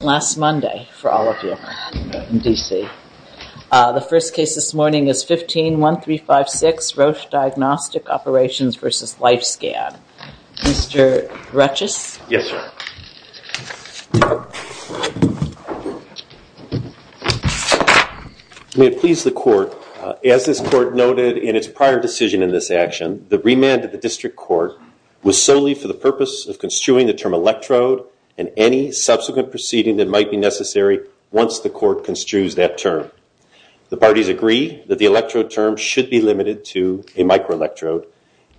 last Monday for all of you in D.C. The first case this morning is 15-1356 Roche Diagnostic Operations v. Lifescan. Mr. Ruchis? Yes, ma'am. May it please the court, as this court noted in its prior decision in this action, the remand of the district court was solely for the purpose of construing the term electrode and any subsequent proceeding that might be necessary once the court construes that term. The parties agree that the electrode term should be limited to a microelectrode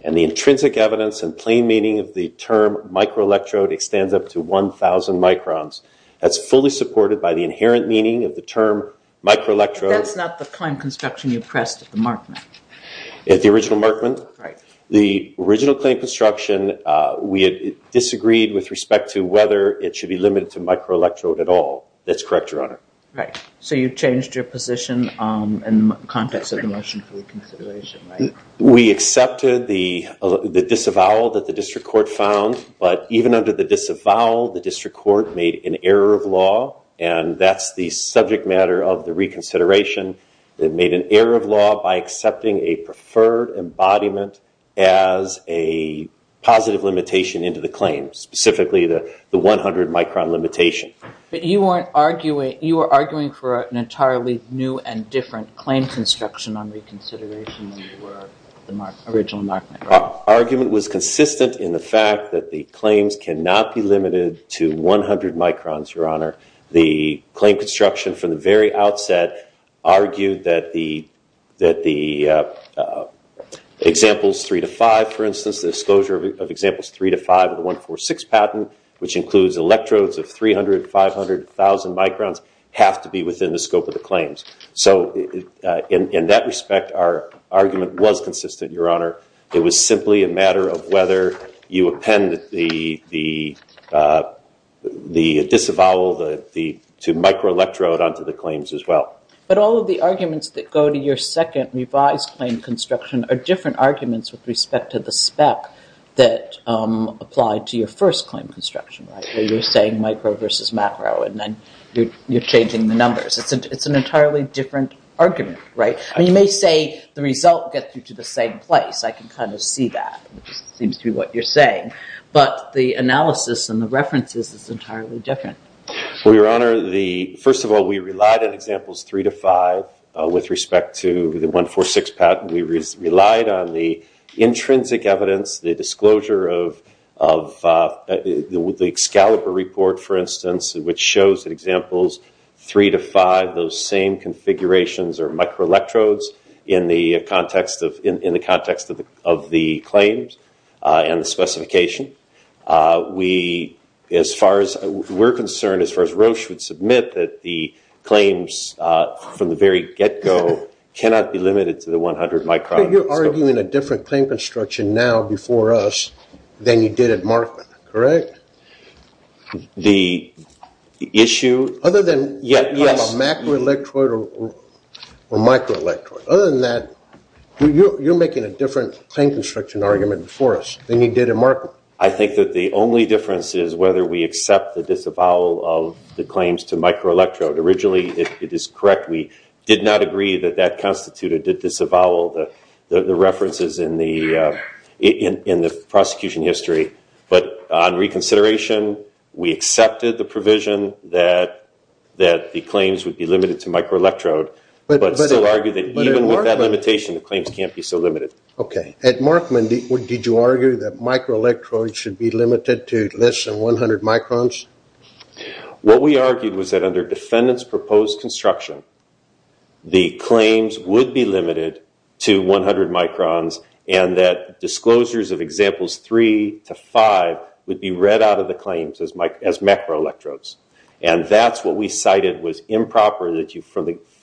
and the intrinsic evidence and plain meaning of the term microelectrode extends up to 1,000 microns. That's fully supported by the inherent meaning of the term microelectrode. But that's not the claim construction you pressed at the Markman. At the original Markman? Right. At the original claim construction, we had disagreed with respect to whether it should be limited to microelectrode at all. That's correct, Your Honor. Right. So you changed your position in the context of the motion for reconsideration, right? We accepted the disavowal that the district court found, but even under the disavowal the district court made an error of law, and that's the subject matter of the reconsideration. It made an error of law by accepting a preferred embodiment as a positive limitation into the claim, specifically the 100 micron limitation. But you were arguing for an entirely new and different claim construction on reconsideration than you were at the original Markman. Our argument was consistent in the fact that the claims cannot be limited to 100 microns, Your Honor. The claim construction from the very outset argued that the examples 3 to 5, for instance, the disclosure of examples 3 to 5 of the 146 patent, which includes electrodes of 300,000, 500,000 microns, have to be within the scope of the claims. So in that respect, our argument was consistent, Your Honor. It was simply a matter of whether you append the disavowal to microelectrode onto the claims as well. But all of the arguments that go to your second revised claim construction are different arguments with respect to the spec that applied to your first claim construction, right, where you're saying micro versus macro and then you're changing the numbers. It's an entirely different argument, right? You may say the result gets you to the same place. I can kind of see that, which seems to be what you're saying. But the analysis and the references is entirely different. Well, Your Honor, first of all, we relied on examples 3 to 5 with respect to the 146 patent. We relied on the intrinsic evidence, the disclosure of the Excalibur report, for instance, which shows that examples 3 to 5, those same configurations are microelectrodes in the context of the claims and the specification. We're concerned, as far as Roche would submit, that the claims from the very get-go cannot be limited to the 100 microns. But you're arguing a different claim construction now before us than you did at Markman, correct? The issue? Other than macroelectrode or microelectrode. Other than that, you're making a different claim construction argument before us than you did at Markman. I think that the only difference is whether we accept the disavowal of the claims to microelectrode. Originally, it is correct. We did not agree that that constituted the disavowal, the references in the prosecution history. But on reconsideration, we accepted the provision that the claims would be limited to microelectrode, but still argued that even with that limitation, the claims can't be so limited. Okay. At Markman, did you argue that microelectrode should be limited to less than 100 microns? What we argued was that under defendant's proposed construction, the claims would be limited to 100 microns and that disclosures of examples three to five would be read out of the claims as macroelectrodes. And that's what we cited was improper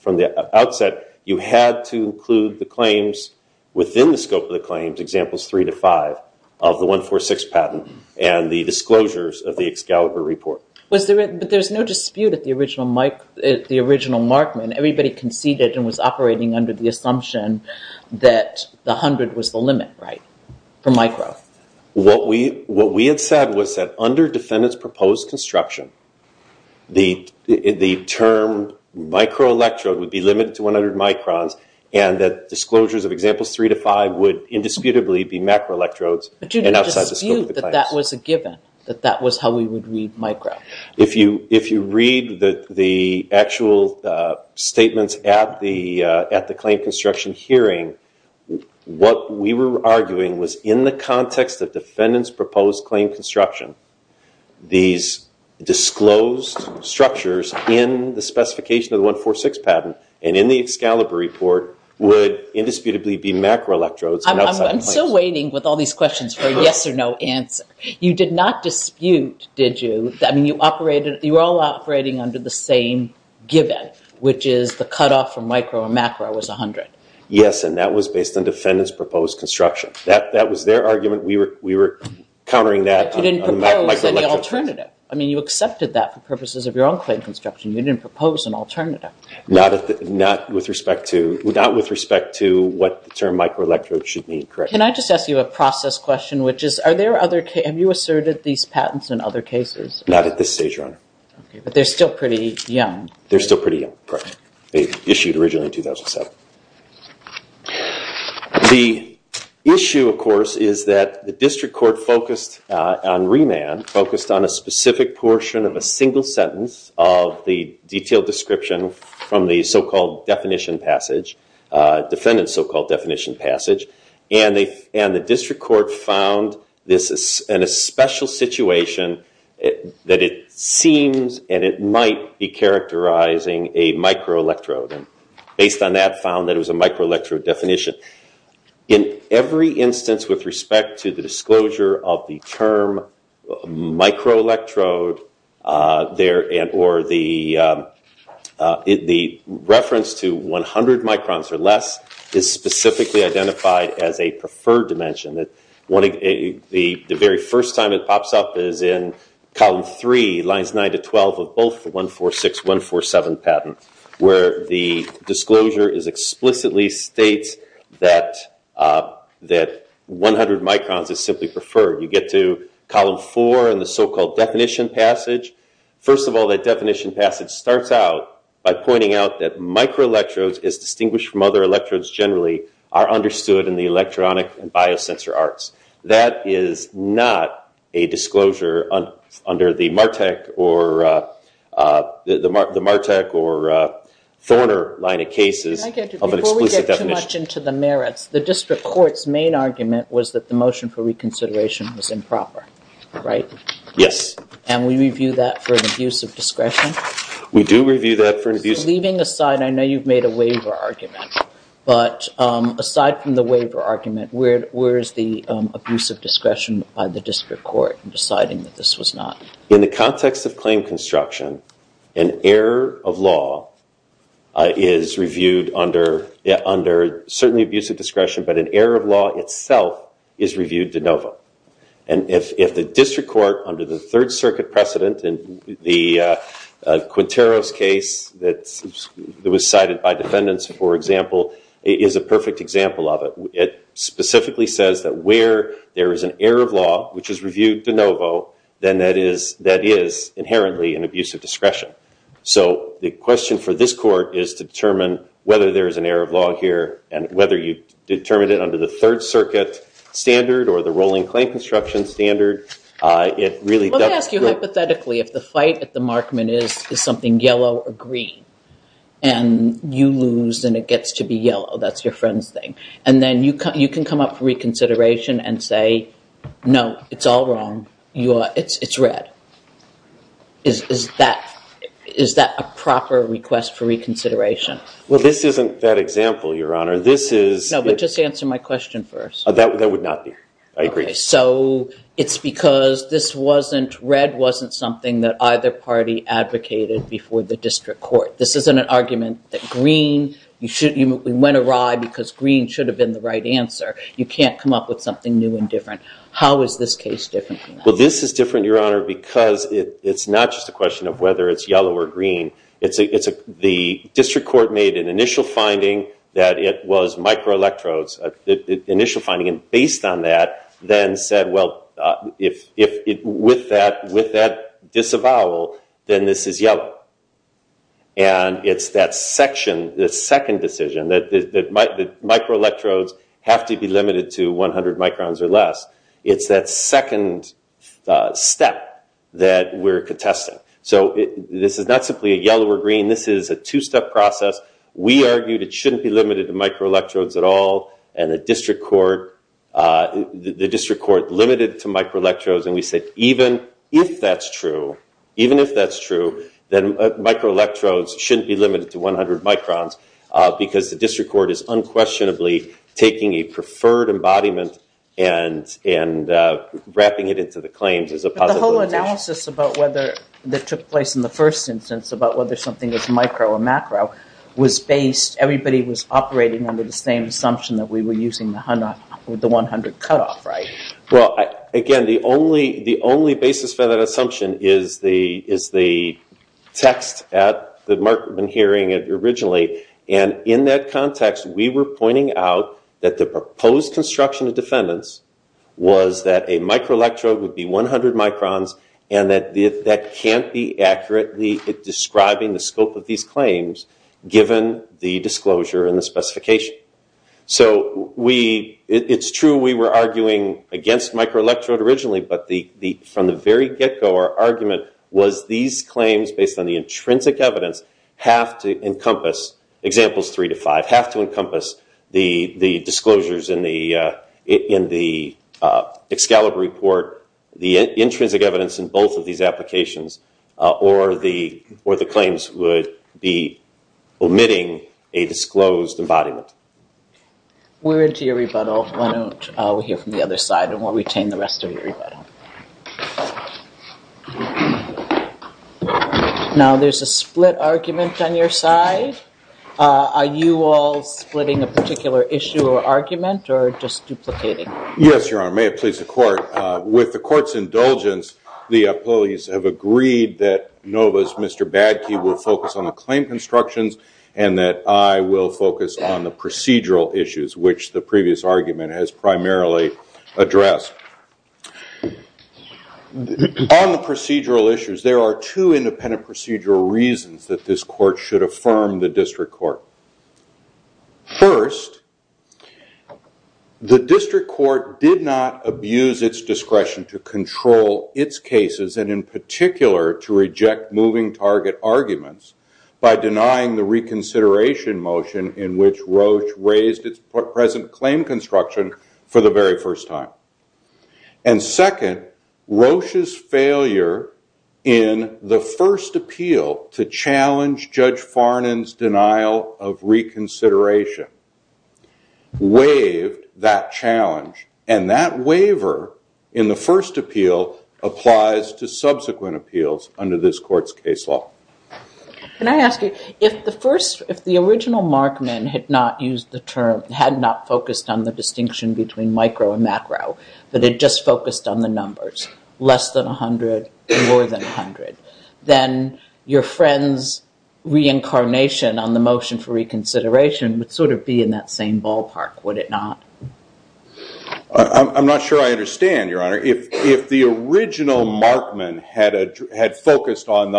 from the outset. You had to include the claims within the scope of the claims, examples three to five, of the 146 patent and the disclosures of the Excalibur report. But there's no dispute at the original Markman. Everybody conceded and was operating under the assumption that the 100 was the limit, right, for micro. What we had said was that under defendant's proposed construction, the term microelectrode would be limited to 100 microns and that disclosures of examples three to five would indisputably be macroelectrodes and outside the scope of the claims. But you dispute that that was a given, that that was how we would read micro. If you read the actual statements at the claim construction hearing, what we were arguing was in the context of defendant's proposed claim construction, these disclosed structures in the specification of the 146 patent and in the Excalibur report would indisputably be macroelectrodes and outside the claims. I'm still waiting with all these questions for a yes or no answer. You did not dispute, did you? I mean, you were all operating under the same given, which is the cutoff from micro and macro was 100. Yes, and that was based on defendant's proposed construction. That was their argument. We were countering that. But you didn't propose any alternative. I mean, you accepted that for purposes of your own claim construction. You didn't propose an alternative. Not with respect to what the term microelectrode should mean, correct. Can I just ask you a process question, which is have you asserted these patents in other cases? Not at this stage, Your Honor. But they're still pretty young. They're still pretty young, correct. They were issued originally in 2007. The issue, of course, is that the district court focused on remand, focused on a specific portion of a single sentence of the detailed description from the so-called definition passage, defendant's so-called definition passage, and the district court found in a special situation that it seems and it might be characterizing a microelectrode. And based on that, found that it was a microelectrode definition. In every instance with respect to the disclosure of the term microelectrode, or the reference to 100 microns or less is specifically identified as a preferred dimension. The very first time it pops up is in column 3, lines 9 to 12 of both the 146, 147 patent, where the disclosure explicitly states that 100 microns is simply preferred. You get to column 4 in the so-called definition passage. First of all, that definition passage starts out by pointing out that microelectrodes, as distinguished from other electrodes generally, are understood in the electronic and biosensor arts. That is not a disclosure under the Martek or Thorner line of cases of an exclusive definition. Before we get too much into the merits, the district court's main argument was that the motion for reconsideration was improper, right? Yes. And we review that for an abuse of discretion? We do review that for an abuse of discretion. Leaving aside, I know you've made a waiver argument, but aside from the waiver argument, where is the abuse of discretion by the district court in deciding that this was not? In the context of claim construction, an error of law is reviewed under certainly abuse of discretion, but an error of law itself is reviewed de novo. And if the district court, under the Third Circuit precedent, in the Quintero's case that was cited by defendants, for example, is a perfect example of it. It specifically says that where there is an error of law, which is reviewed de novo, then that is inherently an abuse of discretion. So the question for this court is to determine whether there is an error of law here and whether you determined it under the Third Circuit standard or the rolling claim construction standard. Let me ask you hypothetically, if the fight at the Markman is something yellow or green, and you lose and it gets to be yellow, that's your friend's thing, and then you can come up for reconsideration and say, no, it's all wrong. It's red. Is that a proper request for reconsideration? Well, this isn't that example, Your Honor. No, but just answer my question first. That would not be. I agree. So it's because red wasn't something that either party advocated before the district court. This isn't an argument that green, you went awry because green should have been the right answer. You can't come up with something new and different. How is this case different from that? Well, this is different, Your Honor, because it's not just a question of whether it's yellow or green. The district court made an initial finding that it was microelectrodes, initial finding, and based on that then said, well, with that disavowal, then this is yellow. And it's that second decision that microelectrodes have to be limited to 100 microns or less. It's that second step that we're contesting. So this is not simply a yellow or green. This is a two-step process. We argued it shouldn't be limited to microelectrodes at all, and the district court limited it to microelectrodes, and we said even if that's true, even if that's true, then microelectrodes shouldn't be limited to 100 microns because the district court is unquestionably taking a preferred embodiment and wrapping it into the claims as a possibility. The initial analysis that took place in the first instance about whether something was micro or macro was based, everybody was operating under the same assumption that we were using the 100 cutoff, right? Well, again, the only basis for that assumption is the text that Mark had been hearing originally, and in that context we were pointing out that the proposed construction of defendants was that a microelectrode would be 100 microns and that that can't be accurately describing the scope of these claims, given the disclosure and the specification. So it's true we were arguing against microelectrode originally, but from the very get-go our argument was these claims, based on the intrinsic evidence, have to encompass, examples three to five, have to encompass the disclosures in the Excalibur report, the intrinsic evidence in both of these applications, or the claims would be omitting a disclosed embodiment. We're into your rebuttal. Why don't we hear from the other side and we'll retain the rest of your rebuttal. Now there's a split argument on your side. Are you all splitting a particular issue or argument or just duplicating? Yes, Your Honor, may it please the court. With the court's indulgence, the appellees have agreed that NOVA's Mr. Badke will focus on the claim constructions and that I will focus on the procedural issues, which the previous argument has primarily addressed. On the procedural issues, there are two independent procedural reasons that this court should affirm the district court. First, the district court did not abuse its discretion to control its cases, and in particular to reject moving target arguments by denying the reconsideration motion in which Roche raised its present claim construction for the very first time. And second, Roche's failure in the first appeal to challenge Judge Farnan's denial of reconsideration waived that challenge, and that waiver in the first appeal applies to subsequent appeals under this court's case law. Can I ask you, if the original Markman had not focused on the distinction between micro and macro, but had just focused on the numbers, less than 100, more than 100, then your friend's reincarnation on the motion for reconsideration would sort of be in that same ballpark, would it not? I'm not sure I understand, Your Honor. I'm not sure if the original Markman had focused on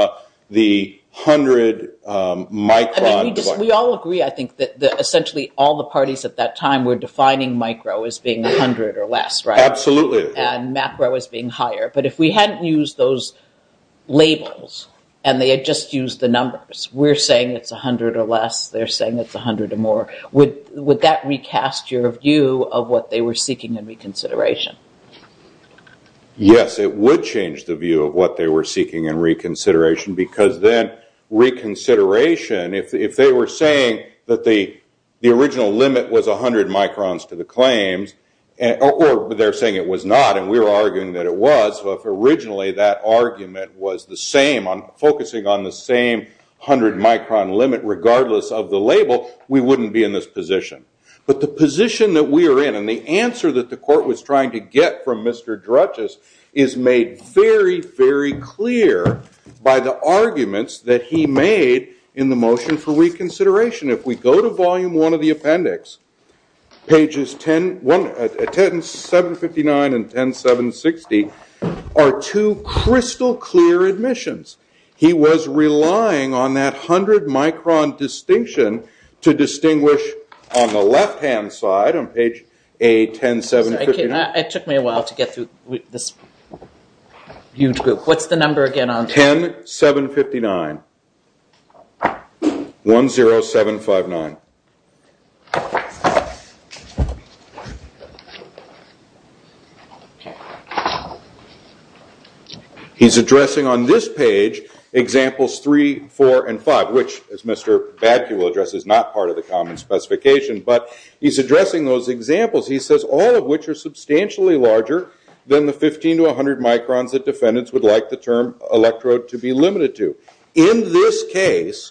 the 100 micron. We all agree, I think, that essentially all the parties at that time were defining micro as being 100 or less, right? Absolutely. And macro as being higher. But if we hadn't used those labels, and they had just used the numbers, we're saying it's 100 or less, they're saying it's 100 or more, would that recast your view of what they were seeking in reconsideration? Yes, it would change the view of what they were seeking in reconsideration, because then reconsideration, if they were saying that the original limit was 100 microns to the claims, or they're saying it was not, and we were arguing that it was, if originally that argument was focusing on the same 100 micron limit, regardless of the label, we wouldn't be in this position. But the position that we are in, and the answer that the court was trying to get from Mr. Drutges, is made very, very clear by the arguments that he made in the motion for reconsideration. If we go to volume one of the appendix, pages 10.759 and 10.760 are two crystal clear admissions. He was relying on that 100 micron distinction to distinguish on the left-hand side on page 10.759. It took me a while to get through this huge group. What's the number again? 10.759. 10.759. He's addressing on this page examples three, four, and five, which, as Mr. Badke will address, is not part of the common specification. All of which are substantially larger than the 15 to 100 microns that defendants would like the term electrode to be limited to. In this case,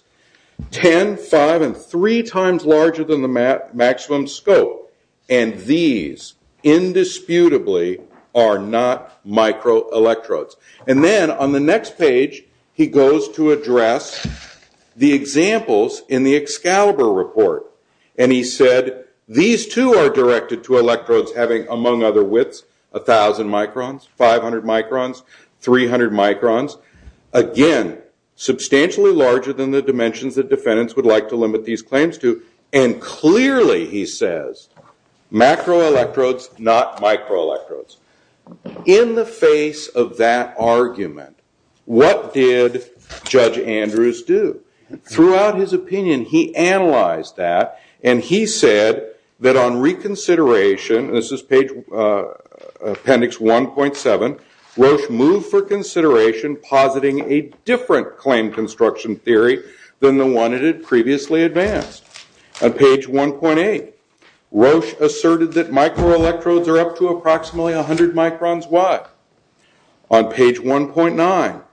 10, 5, and 3 times larger than the maximum scope. And these, indisputably, are not microelectrodes. And then on the next page, he goes to address the examples in the Excalibur report. And he said, these two are directed to electrodes having, among other widths, 1,000 microns, 500 microns, 300 microns. Again, substantially larger than the dimensions that defendants would like to limit these claims to. And clearly, he says, macroelectrodes, not microelectrodes. In the face of that argument, what did Judge Andrews do? Throughout his opinion, he analyzed that. And he said that on reconsideration, this is page appendix 1.7, Roche moved for consideration positing a different claim construction theory than the one it had previously advanced. On page 1.8, Roche asserted that microelectrodes are up to approximately 100 microns wide. On page 1.9,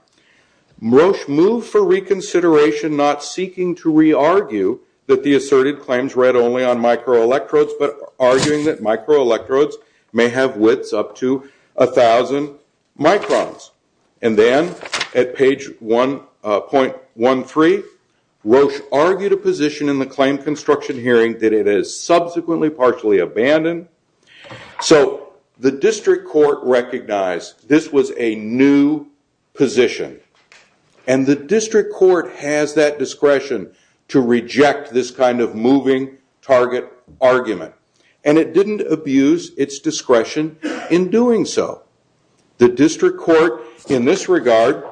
Roche moved for reconsideration not seeking to re-argue that the asserted claims read only on microelectrodes, but arguing that microelectrodes may have widths up to 1,000 microns. And then at page 1.13, Roche argued a position in the claim construction hearing that it is subsequently partially abandoned. So the district court recognized this was a new position. And the district court has that discretion to reject this kind of moving target argument. And it didn't abuse its discretion in doing so. The district court, in this regard,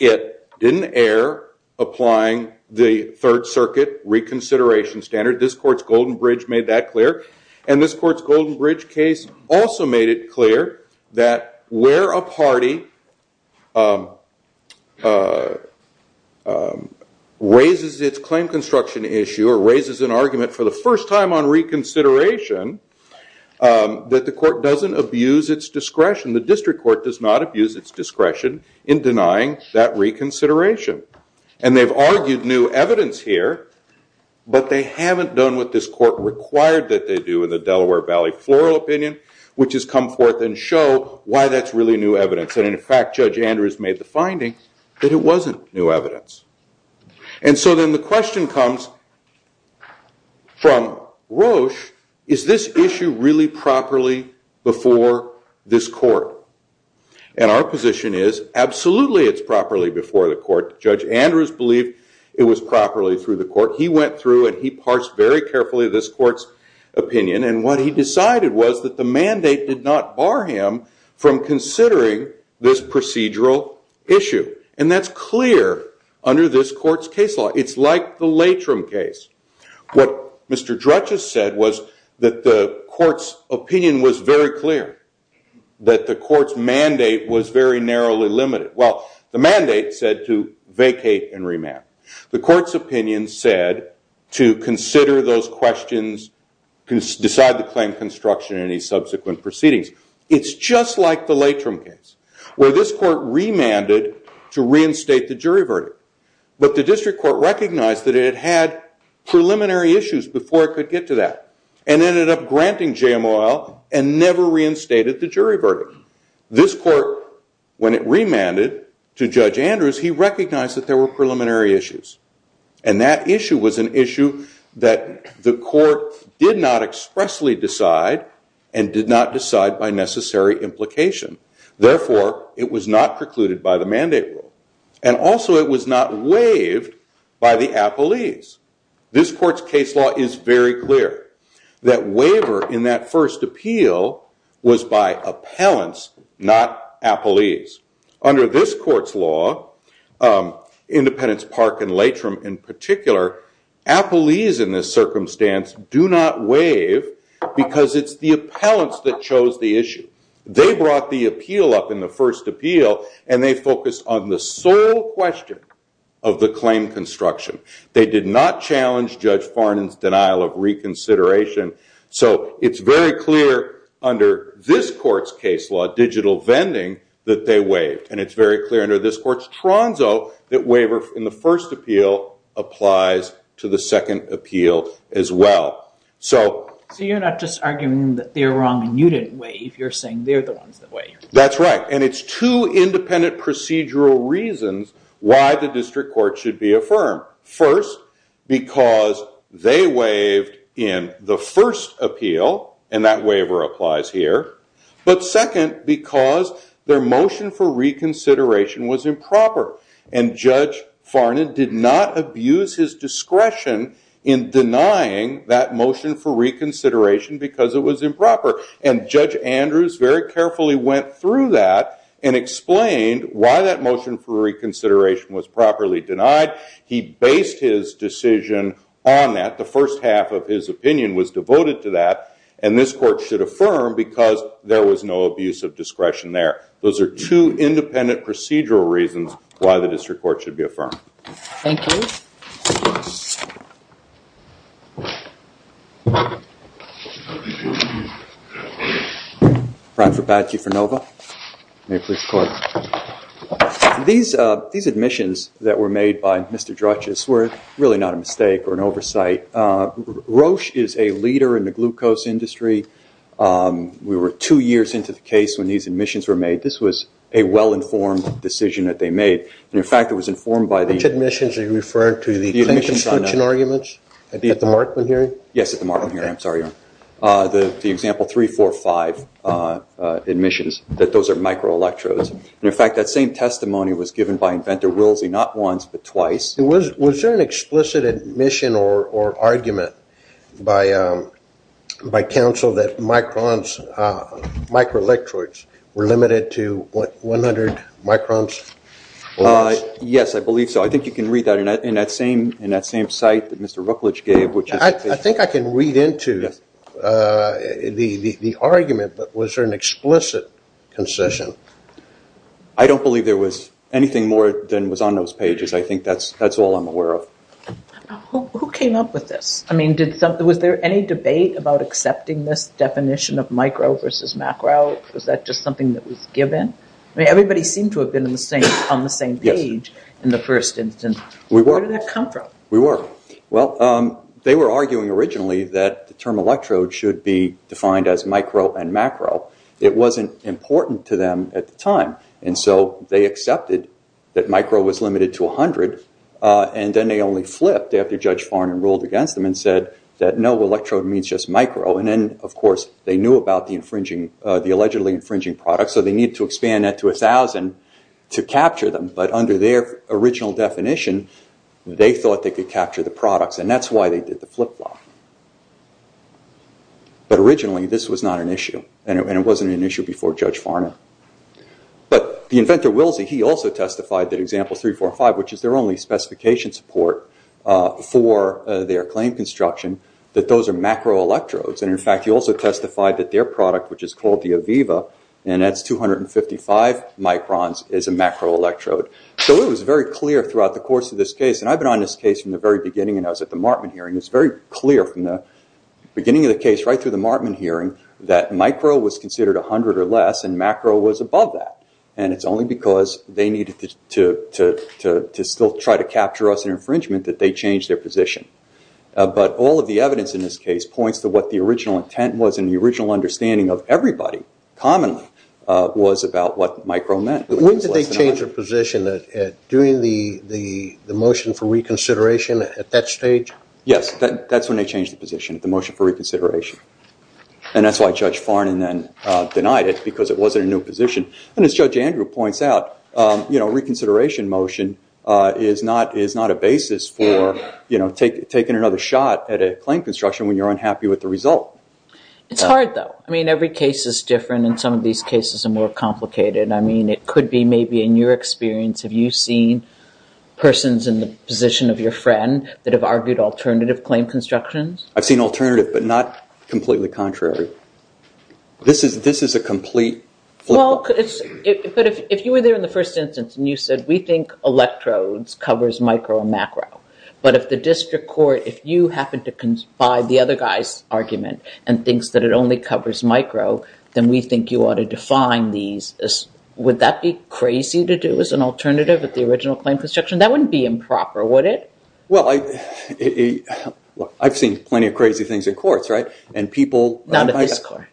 it didn't err applying the Third Circuit reconsideration standard. This court's Golden Bridge made that clear. And this court's Golden Bridge case also made it clear that where a party raises its claim construction issue or raises an argument for the first time on reconsideration, that the court doesn't abuse its discretion. The district court does not abuse its discretion in denying that reconsideration. And they've argued new evidence here. But they haven't done what this court required that they do in the Delaware Valley floral opinion, which is come forth and show why that's really new evidence. And in fact, Judge Andrews made the finding that it wasn't new evidence. And so then the question comes from Roche, is this issue really properly before this court? And our position is absolutely it's properly before the court. Judge Andrews believed it was properly through the court. He went through and he parsed very carefully this court's opinion. And what he decided was that the mandate did not bar him from considering this procedural issue. And that's clear under this court's case law. It's like the Latrim case. What Mr. Drutchess said was that the court's opinion was very clear, that the court's mandate was very narrowly limited. Well, the mandate said to vacate and remand. The court's opinion said to consider those questions, decide the claim construction and any subsequent proceedings. It's just like the Latrim case, where this court remanded to reinstate the jury verdict. But the district court recognized that it had had preliminary issues before it could get to that and ended up granting JMOL and never reinstated the jury verdict. This court, when it remanded to Judge Andrews, he recognized that there were preliminary issues. And that issue was an issue that the court did not expressly decide and did not decide by necessary implication. Therefore, it was not precluded by the mandate rule. And also, it was not waived by the appellees. This court's case law is very clear. That waiver in that first appeal was by appellants, not appellees. Under this court's law, Independence Park and Latrim in particular, appellees in this circumstance do not waive because it's the appellants that chose the issue. They brought the appeal up in the first appeal, and they focused on the sole question of the claim construction. They did not challenge Judge Farnon's denial of reconsideration. So it's very clear under this court's case law, digital vending, that they waived. And it's very clear under this court's tronzo that waiver in the first appeal applies to the second appeal as well. So you're not just arguing that they're wrong and you didn't waive. You're saying they're the ones that waived. That's right. And it's two independent procedural reasons why the district court should be affirmed. First, because they waived in the first appeal, and that waiver applies here. But second, because their motion for reconsideration was improper, and Judge Farnon did not abuse his discretion in denying that motion for reconsideration because it was improper. And Judge Andrews very carefully went through that and explained why that motion for reconsideration was properly denied. He based his decision on that. The first half of his opinion was devoted to that, and this court should affirm because there was no abuse of discretion there. Those are two independent procedural reasons why the district court should be affirmed. Thank you. Brian Fabaggio for NOVA. May it please the court. These admissions that were made by Mr. Druchess were really not a mistake or an oversight. Roche is a leader in the glucose industry. We were two years into the case when these admissions were made. This was a well-informed decision that they made. In fact, it was informed by the- Which admissions are you referring to? The admissions on- The claims construction arguments at the Markman hearing? Yes, at the Markman hearing. I'm sorry, Your Honor. The example 3, 4, 5 admissions, that those are microelectrodes. In fact, that same testimony was given by Inventor Wilsey not once but twice. Was there an explicit admission or argument by counsel that microelectrodes were limited to 100 microns? Yes, I believe so. I think you can read that in that same site that Mr. Rucklidge gave. I think I can read into the argument, but was there an explicit concession? I don't believe there was anything more than was on those pages. I think that's all I'm aware of. Who came up with this? I mean, was there any debate about accepting this definition of micro versus macro? Was that just something that was given? I mean, everybody seemed to have been on the same page in the first instance. We were. Where did that come from? We were. Well, they were arguing originally that the term electrode should be defined as micro and macro. It wasn't important to them at the time. They accepted that micro was limited to 100, and then they only flipped after Judge Farnan ruled against them and said that no electrode means just micro. Then, of course, they knew about the allegedly infringing product, so they needed to expand that to 1,000 to capture them. But under their original definition, they thought they could capture the products, and that's why they did the flip-flop. But originally, this was not an issue, and it wasn't an issue before Judge Farnan. But the inventor, Wilsey, he also testified that Example 3, 4, and 5, which is their only specification support for their claim construction, that those are macro electrodes. In fact, he also testified that their product, which is called the Aviva, and that's 255 microns, is a macro electrode. So it was very clear throughout the course of this case, and I've been on this case from the very beginning and I was at the Martman hearing, it was very clear from the beginning of the case right through the Martman hearing that micro was considered 100 or less and macro was above that. And it's only because they needed to still try to capture us in infringement that they changed their position. But all of the evidence in this case points to what the original intent was and the original understanding of everybody, commonly, was about what micro meant. When did they change their position? During the motion for reconsideration at that stage? Yes. That's when they changed the position at the motion for reconsideration. And that's why Judge Farnan then denied it because it wasn't a new position. And as Judge Andrew points out, a reconsideration motion is not a basis for taking another shot at a claim construction when you're unhappy with the result. It's hard, though. I mean, every case is different and some of these cases are more complicated. I mean, it could be maybe in your experience, have you seen persons in the position of your friend that have argued alternative claim constructions? I've seen alternative but not completely contrary. This is a complete flip. Well, but if you were there in the first instance and you said, we think electrodes covers micro and macro, but if the district court, if you happen to conspire the other guy's argument and thinks that it only covers micro, then we think you ought to define these. Would that be crazy to do as an alternative at the original claim construction? That wouldn't be improper, would it? Well, I've seen plenty of crazy things in courts, right? Not in this court.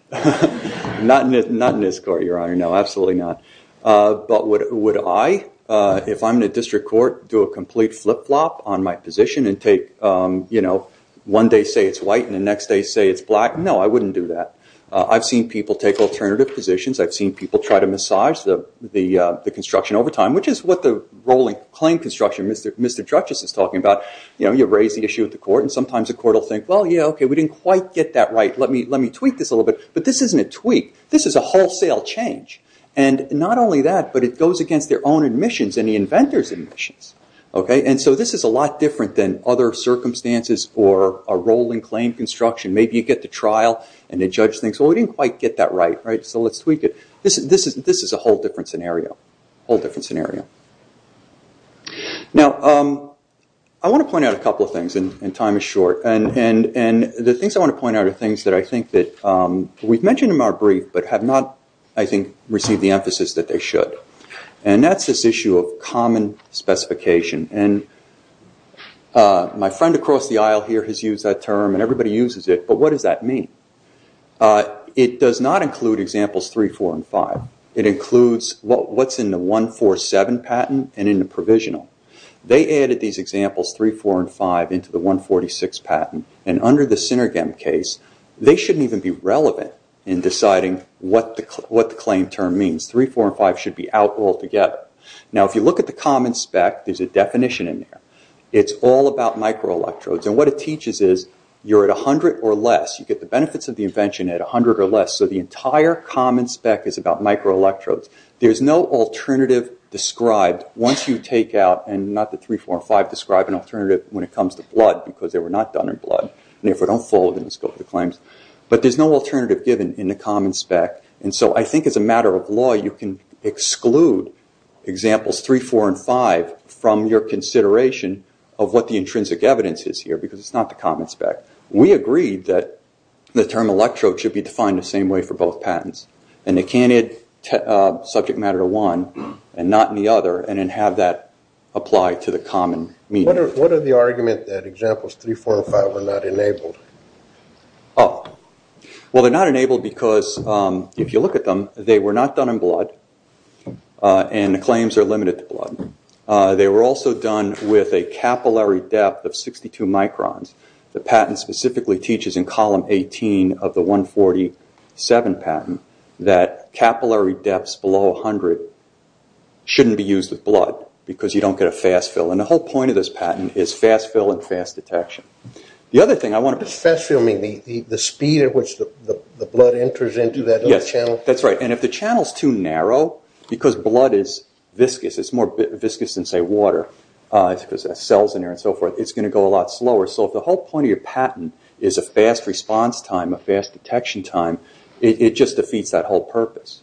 Not in this court, Your Honor. No, absolutely not. But would I, if I'm in a district court, do a complete flip-flop on my position and take, you know, one day say it's white and the next day say it's black? No, I wouldn't do that. I've seen people take alternative positions. I've seen people try to massage the construction over time, which is what the rolling claim construction, Mr. Drutges, is talking about. You know, you raise the issue with the court and sometimes the court will think, well, yeah, okay, we didn't quite get that right. Let me tweak this a little bit. But this isn't a tweak. This is a wholesale change. And not only that, but it goes against their own admissions and the inventor's admissions. Okay, and so this is a lot different than other circumstances or a rolling claim construction. Maybe you get to trial and the judge thinks, well, we didn't quite get that right. So let's tweak it. This is a whole different scenario, a whole different scenario. Now, I want to point out a couple of things, and time is short. And the things I want to point out are things that I think that we've mentioned in our brief but have not, I think, received the emphasis that they should. And that's this issue of common specification. And my friend across the aisle here has used that term and everybody uses it, but what does that mean? It does not include examples 3, 4, and 5. It includes what's in the 147 patent and in the provisional. They added these examples 3, 4, and 5 into the 146 patent. And under the Synergem case, they shouldn't even be relevant in deciding what the claim term means. 3, 4, and 5 should be out altogether. Now, if you look at the common spec, there's a definition in there. It's all about microelectrodes. And what it teaches is you're at 100 or less. You get the benefits of the invention at 100 or less. So the entire common spec is about microelectrodes. There's no alternative described once you take out, and not that 3, 4, and 5 describe an alternative when it comes to blood because they were not done in blood. And therefore, don't fall within the scope of the claims. But there's no alternative given in the common spec. And so I think as a matter of law, you can exclude examples 3, 4, and 5 from your consideration of what the intrinsic evidence is here because it's not the common spec. We agreed that the term electrode should be defined the same way for both patents. And it can't add subject matter to one and not in the other and then have that apply to the common medium. What are the arguments that examples 3, 4, and 5 were not enabled? Well, they're not enabled because if you look at them, they were not done in blood and the claims are limited to blood. They were also done with a capillary depth of 62 microns. The patent specifically teaches in column 18 of the 147 patent that capillary depths below 100 shouldn't be used with blood because you don't get a fast fill. And the whole point of this patent is fast fill and fast detection. The other thing I want to... What does fast fill mean? The speed at which the blood enters into that other channel? Yes, that's right. And if the channel is too narrow because blood is viscous, it's more viscous than, say, water because it has cells in there and so forth, it's going to go a lot slower. So if the whole point of your patent is a fast response time, a fast detection time, it just defeats that whole purpose.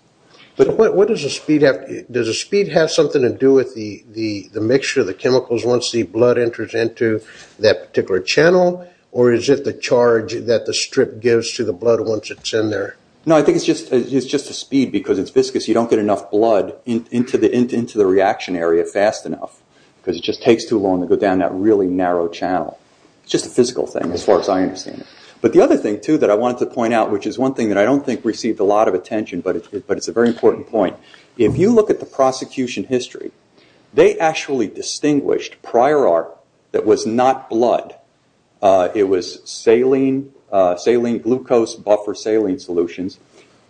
But what does the speed have... Does the speed have something to do with the mixture of the chemicals once the blood enters into that particular channel? Or is it the charge that the strip gives to the blood once it's in there? No, I think it's just the speed because it's viscous. You don't get enough blood into the reaction area fast enough because it just takes too long to go down that really narrow channel. It's just a physical thing as far as I understand it. But the other thing, too, that I wanted to point out, which is one thing that I don't think received a lot of attention, but it's a very important point. If you look at the prosecution history, they actually distinguished prior art that was not blood. It was saline, glucose buffer saline solutions.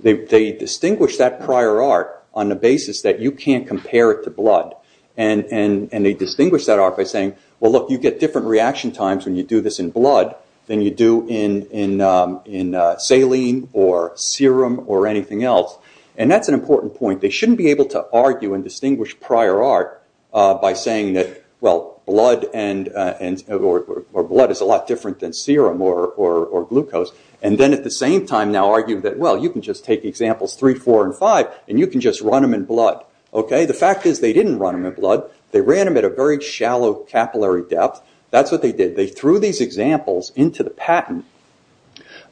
They distinguished that prior art on the basis that you can't compare it to blood. They distinguished that art by saying, well, look, you get different reaction times when you do this in blood than you do in saline or serum or anything else. That's an important point. They shouldn't be able to argue and distinguish prior art by saying that blood is a lot different than serum or glucose, and then at the same time now argue that, well, you can just take examples three, four, and five, and you can just run them in blood. The fact is they didn't run them in blood. They ran them at a very shallow capillary depth. That's what they did. They threw these examples into the patent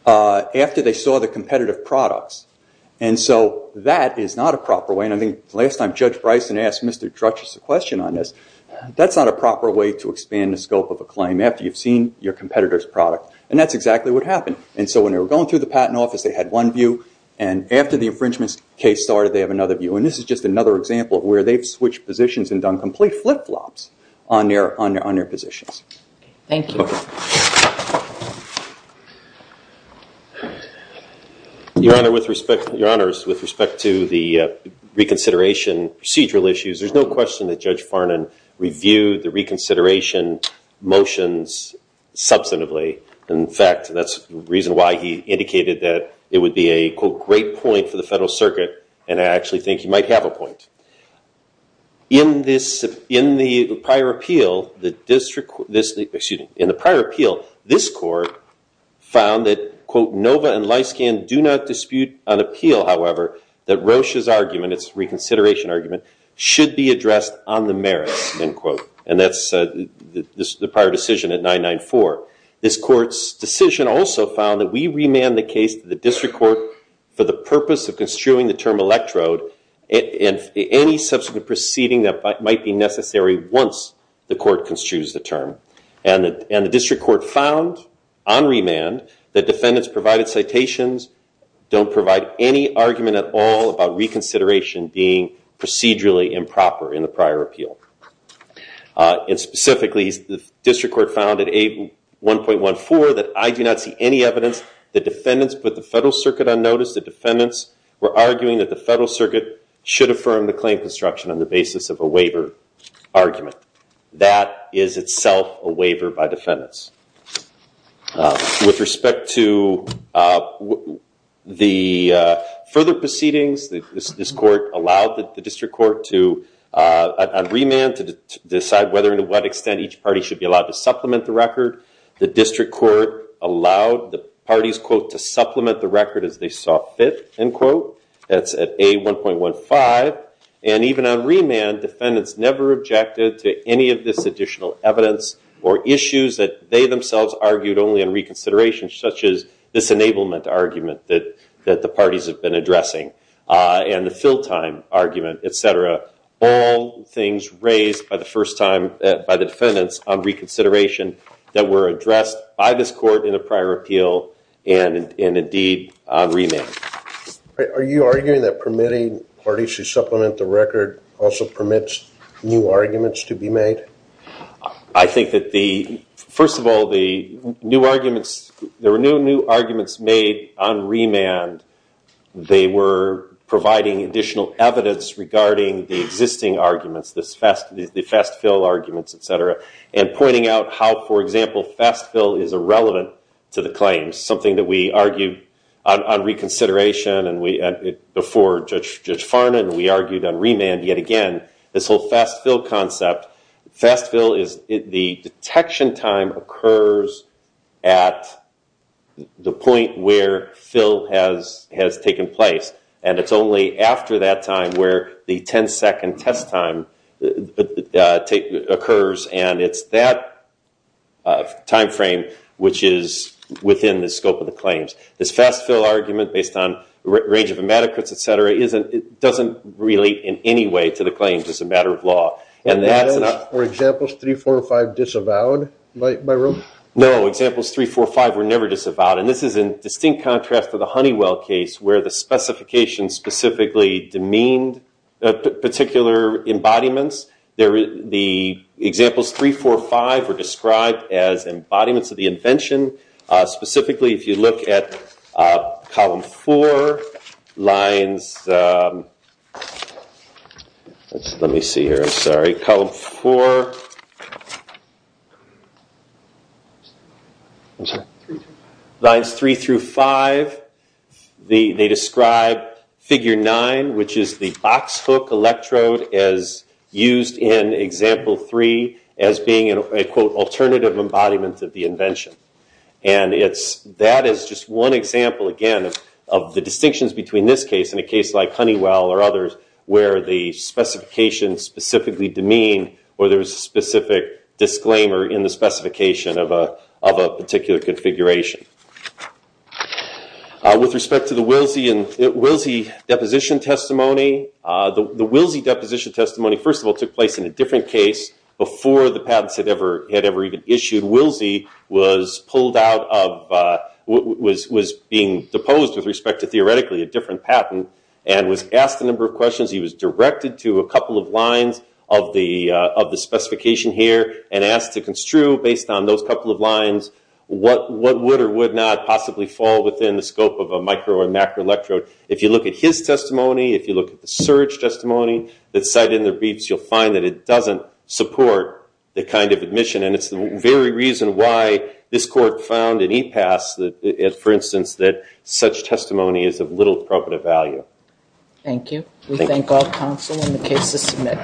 after they saw the competitive products. That is not a proper way, and I think the last time Judge Bryson asked Mr. Drutches a question on this, that's not a proper way to expand the scope of a claim after you've seen your competitor's product. That's exactly what happened. When they were going through the patent office, they had one view, and after the infringement case started, they have another view. And this is just another example of where they've switched positions and done complete flip-flops on their positions. Thank you. Your Honors, with respect to the reconsideration procedural issues, there's no question that Judge Farnan reviewed the reconsideration motions substantively. In fact, that's the reason why he indicated that it would be a, quote, and I think he might have a point. In the prior appeal, this court found that, quote, Nova and Lyskan do not dispute on appeal, however, that Roche's argument, its reconsideration argument, should be addressed on the merits, end quote. And that's the prior decision at 994. This court's decision also found that we remand the case to the district court for the purpose of construing the term electrode and any subsequent proceeding that might be necessary once the court construes the term. And the district court found on remand that defendants provided citations, don't provide any argument at all about reconsideration being procedurally improper in the prior appeal. And specifically, the district court found at 1.14 that I do not see any evidence that defendants put the federal circuit on notice, that defendants were arguing that the federal circuit should affirm the claim construction on the basis of a waiver argument. That is itself a waiver by defendants. With respect to the further proceedings, this court allowed the district court to, on remand, to decide whether and to what extent each party should be allowed to supplement the record. The district court allowed the parties, quote, to supplement the record as they saw fit, end quote. That's at A1.15. And even on remand, defendants never objected to any of this additional evidence or issues that they themselves argued only on reconsideration, such as this enablement argument that the parties have been addressing and the fill time argument, et cetera. All things raised by the first time by the defendants on reconsideration that were addressed by this court in a prior appeal and indeed on remand. Are you arguing that permitting parties to supplement the record also permits new arguments to be made? I think that the first of all, the new arguments, there were no new arguments made on remand. They were providing additional evidence regarding the existing arguments, the fast fill arguments, et cetera, and pointing out how, for example, fast fill is irrelevant to the claims, something that we argued on reconsideration and before Judge Farnan, we argued on remand. Yet again, this whole fast fill concept, fast fill is the detection time occurs at the point where fill has taken place. And it's only after that time where the 10-second test time occurs, and it's that time frame which is within the scope of the claims. This fast fill argument based on range of inadequacy, et cetera, doesn't relate in any way to the claims. It's a matter of law. Were examples 3, 4, or 5 disavowed by room? No, examples 3, 4, or 5 were never disavowed, and this is in distinct contrast to the Honeywell case where the specifications specifically demeaned particular embodiments. The examples 3, 4, or 5 were described as embodiments of the invention. Specifically, if you look at column 4, lines 3 through 5, they describe figure 9, which is the box hook electrode as used in example 3 as being an, I quote, alternative embodiment of the invention. And that is just one example, again, of the distinctions between this case and a case like Honeywell or others where the specifications specifically demean or there's a specific disclaimer in the specification of a particular configuration. With respect to the Wilsey deposition testimony, the Wilsey deposition testimony, first of all, took place in a different case before the patents had ever even issued. Wilsey was being deposed with respect to theoretically a different patent and was asked a number of questions. He was directed to a couple of lines of the specification here and asked to construe based on those couple of lines what would or would not possibly fall within the scope of a micro or macro electrode. If you look at his testimony, if you look at the Surge testimony that's cited in their briefs, you'll find that it doesn't support the kind of admission. And it's the very reason why this court found in EPAS, for instance, that such testimony is of little property value. Thank you. We thank all counsel in the case to submit.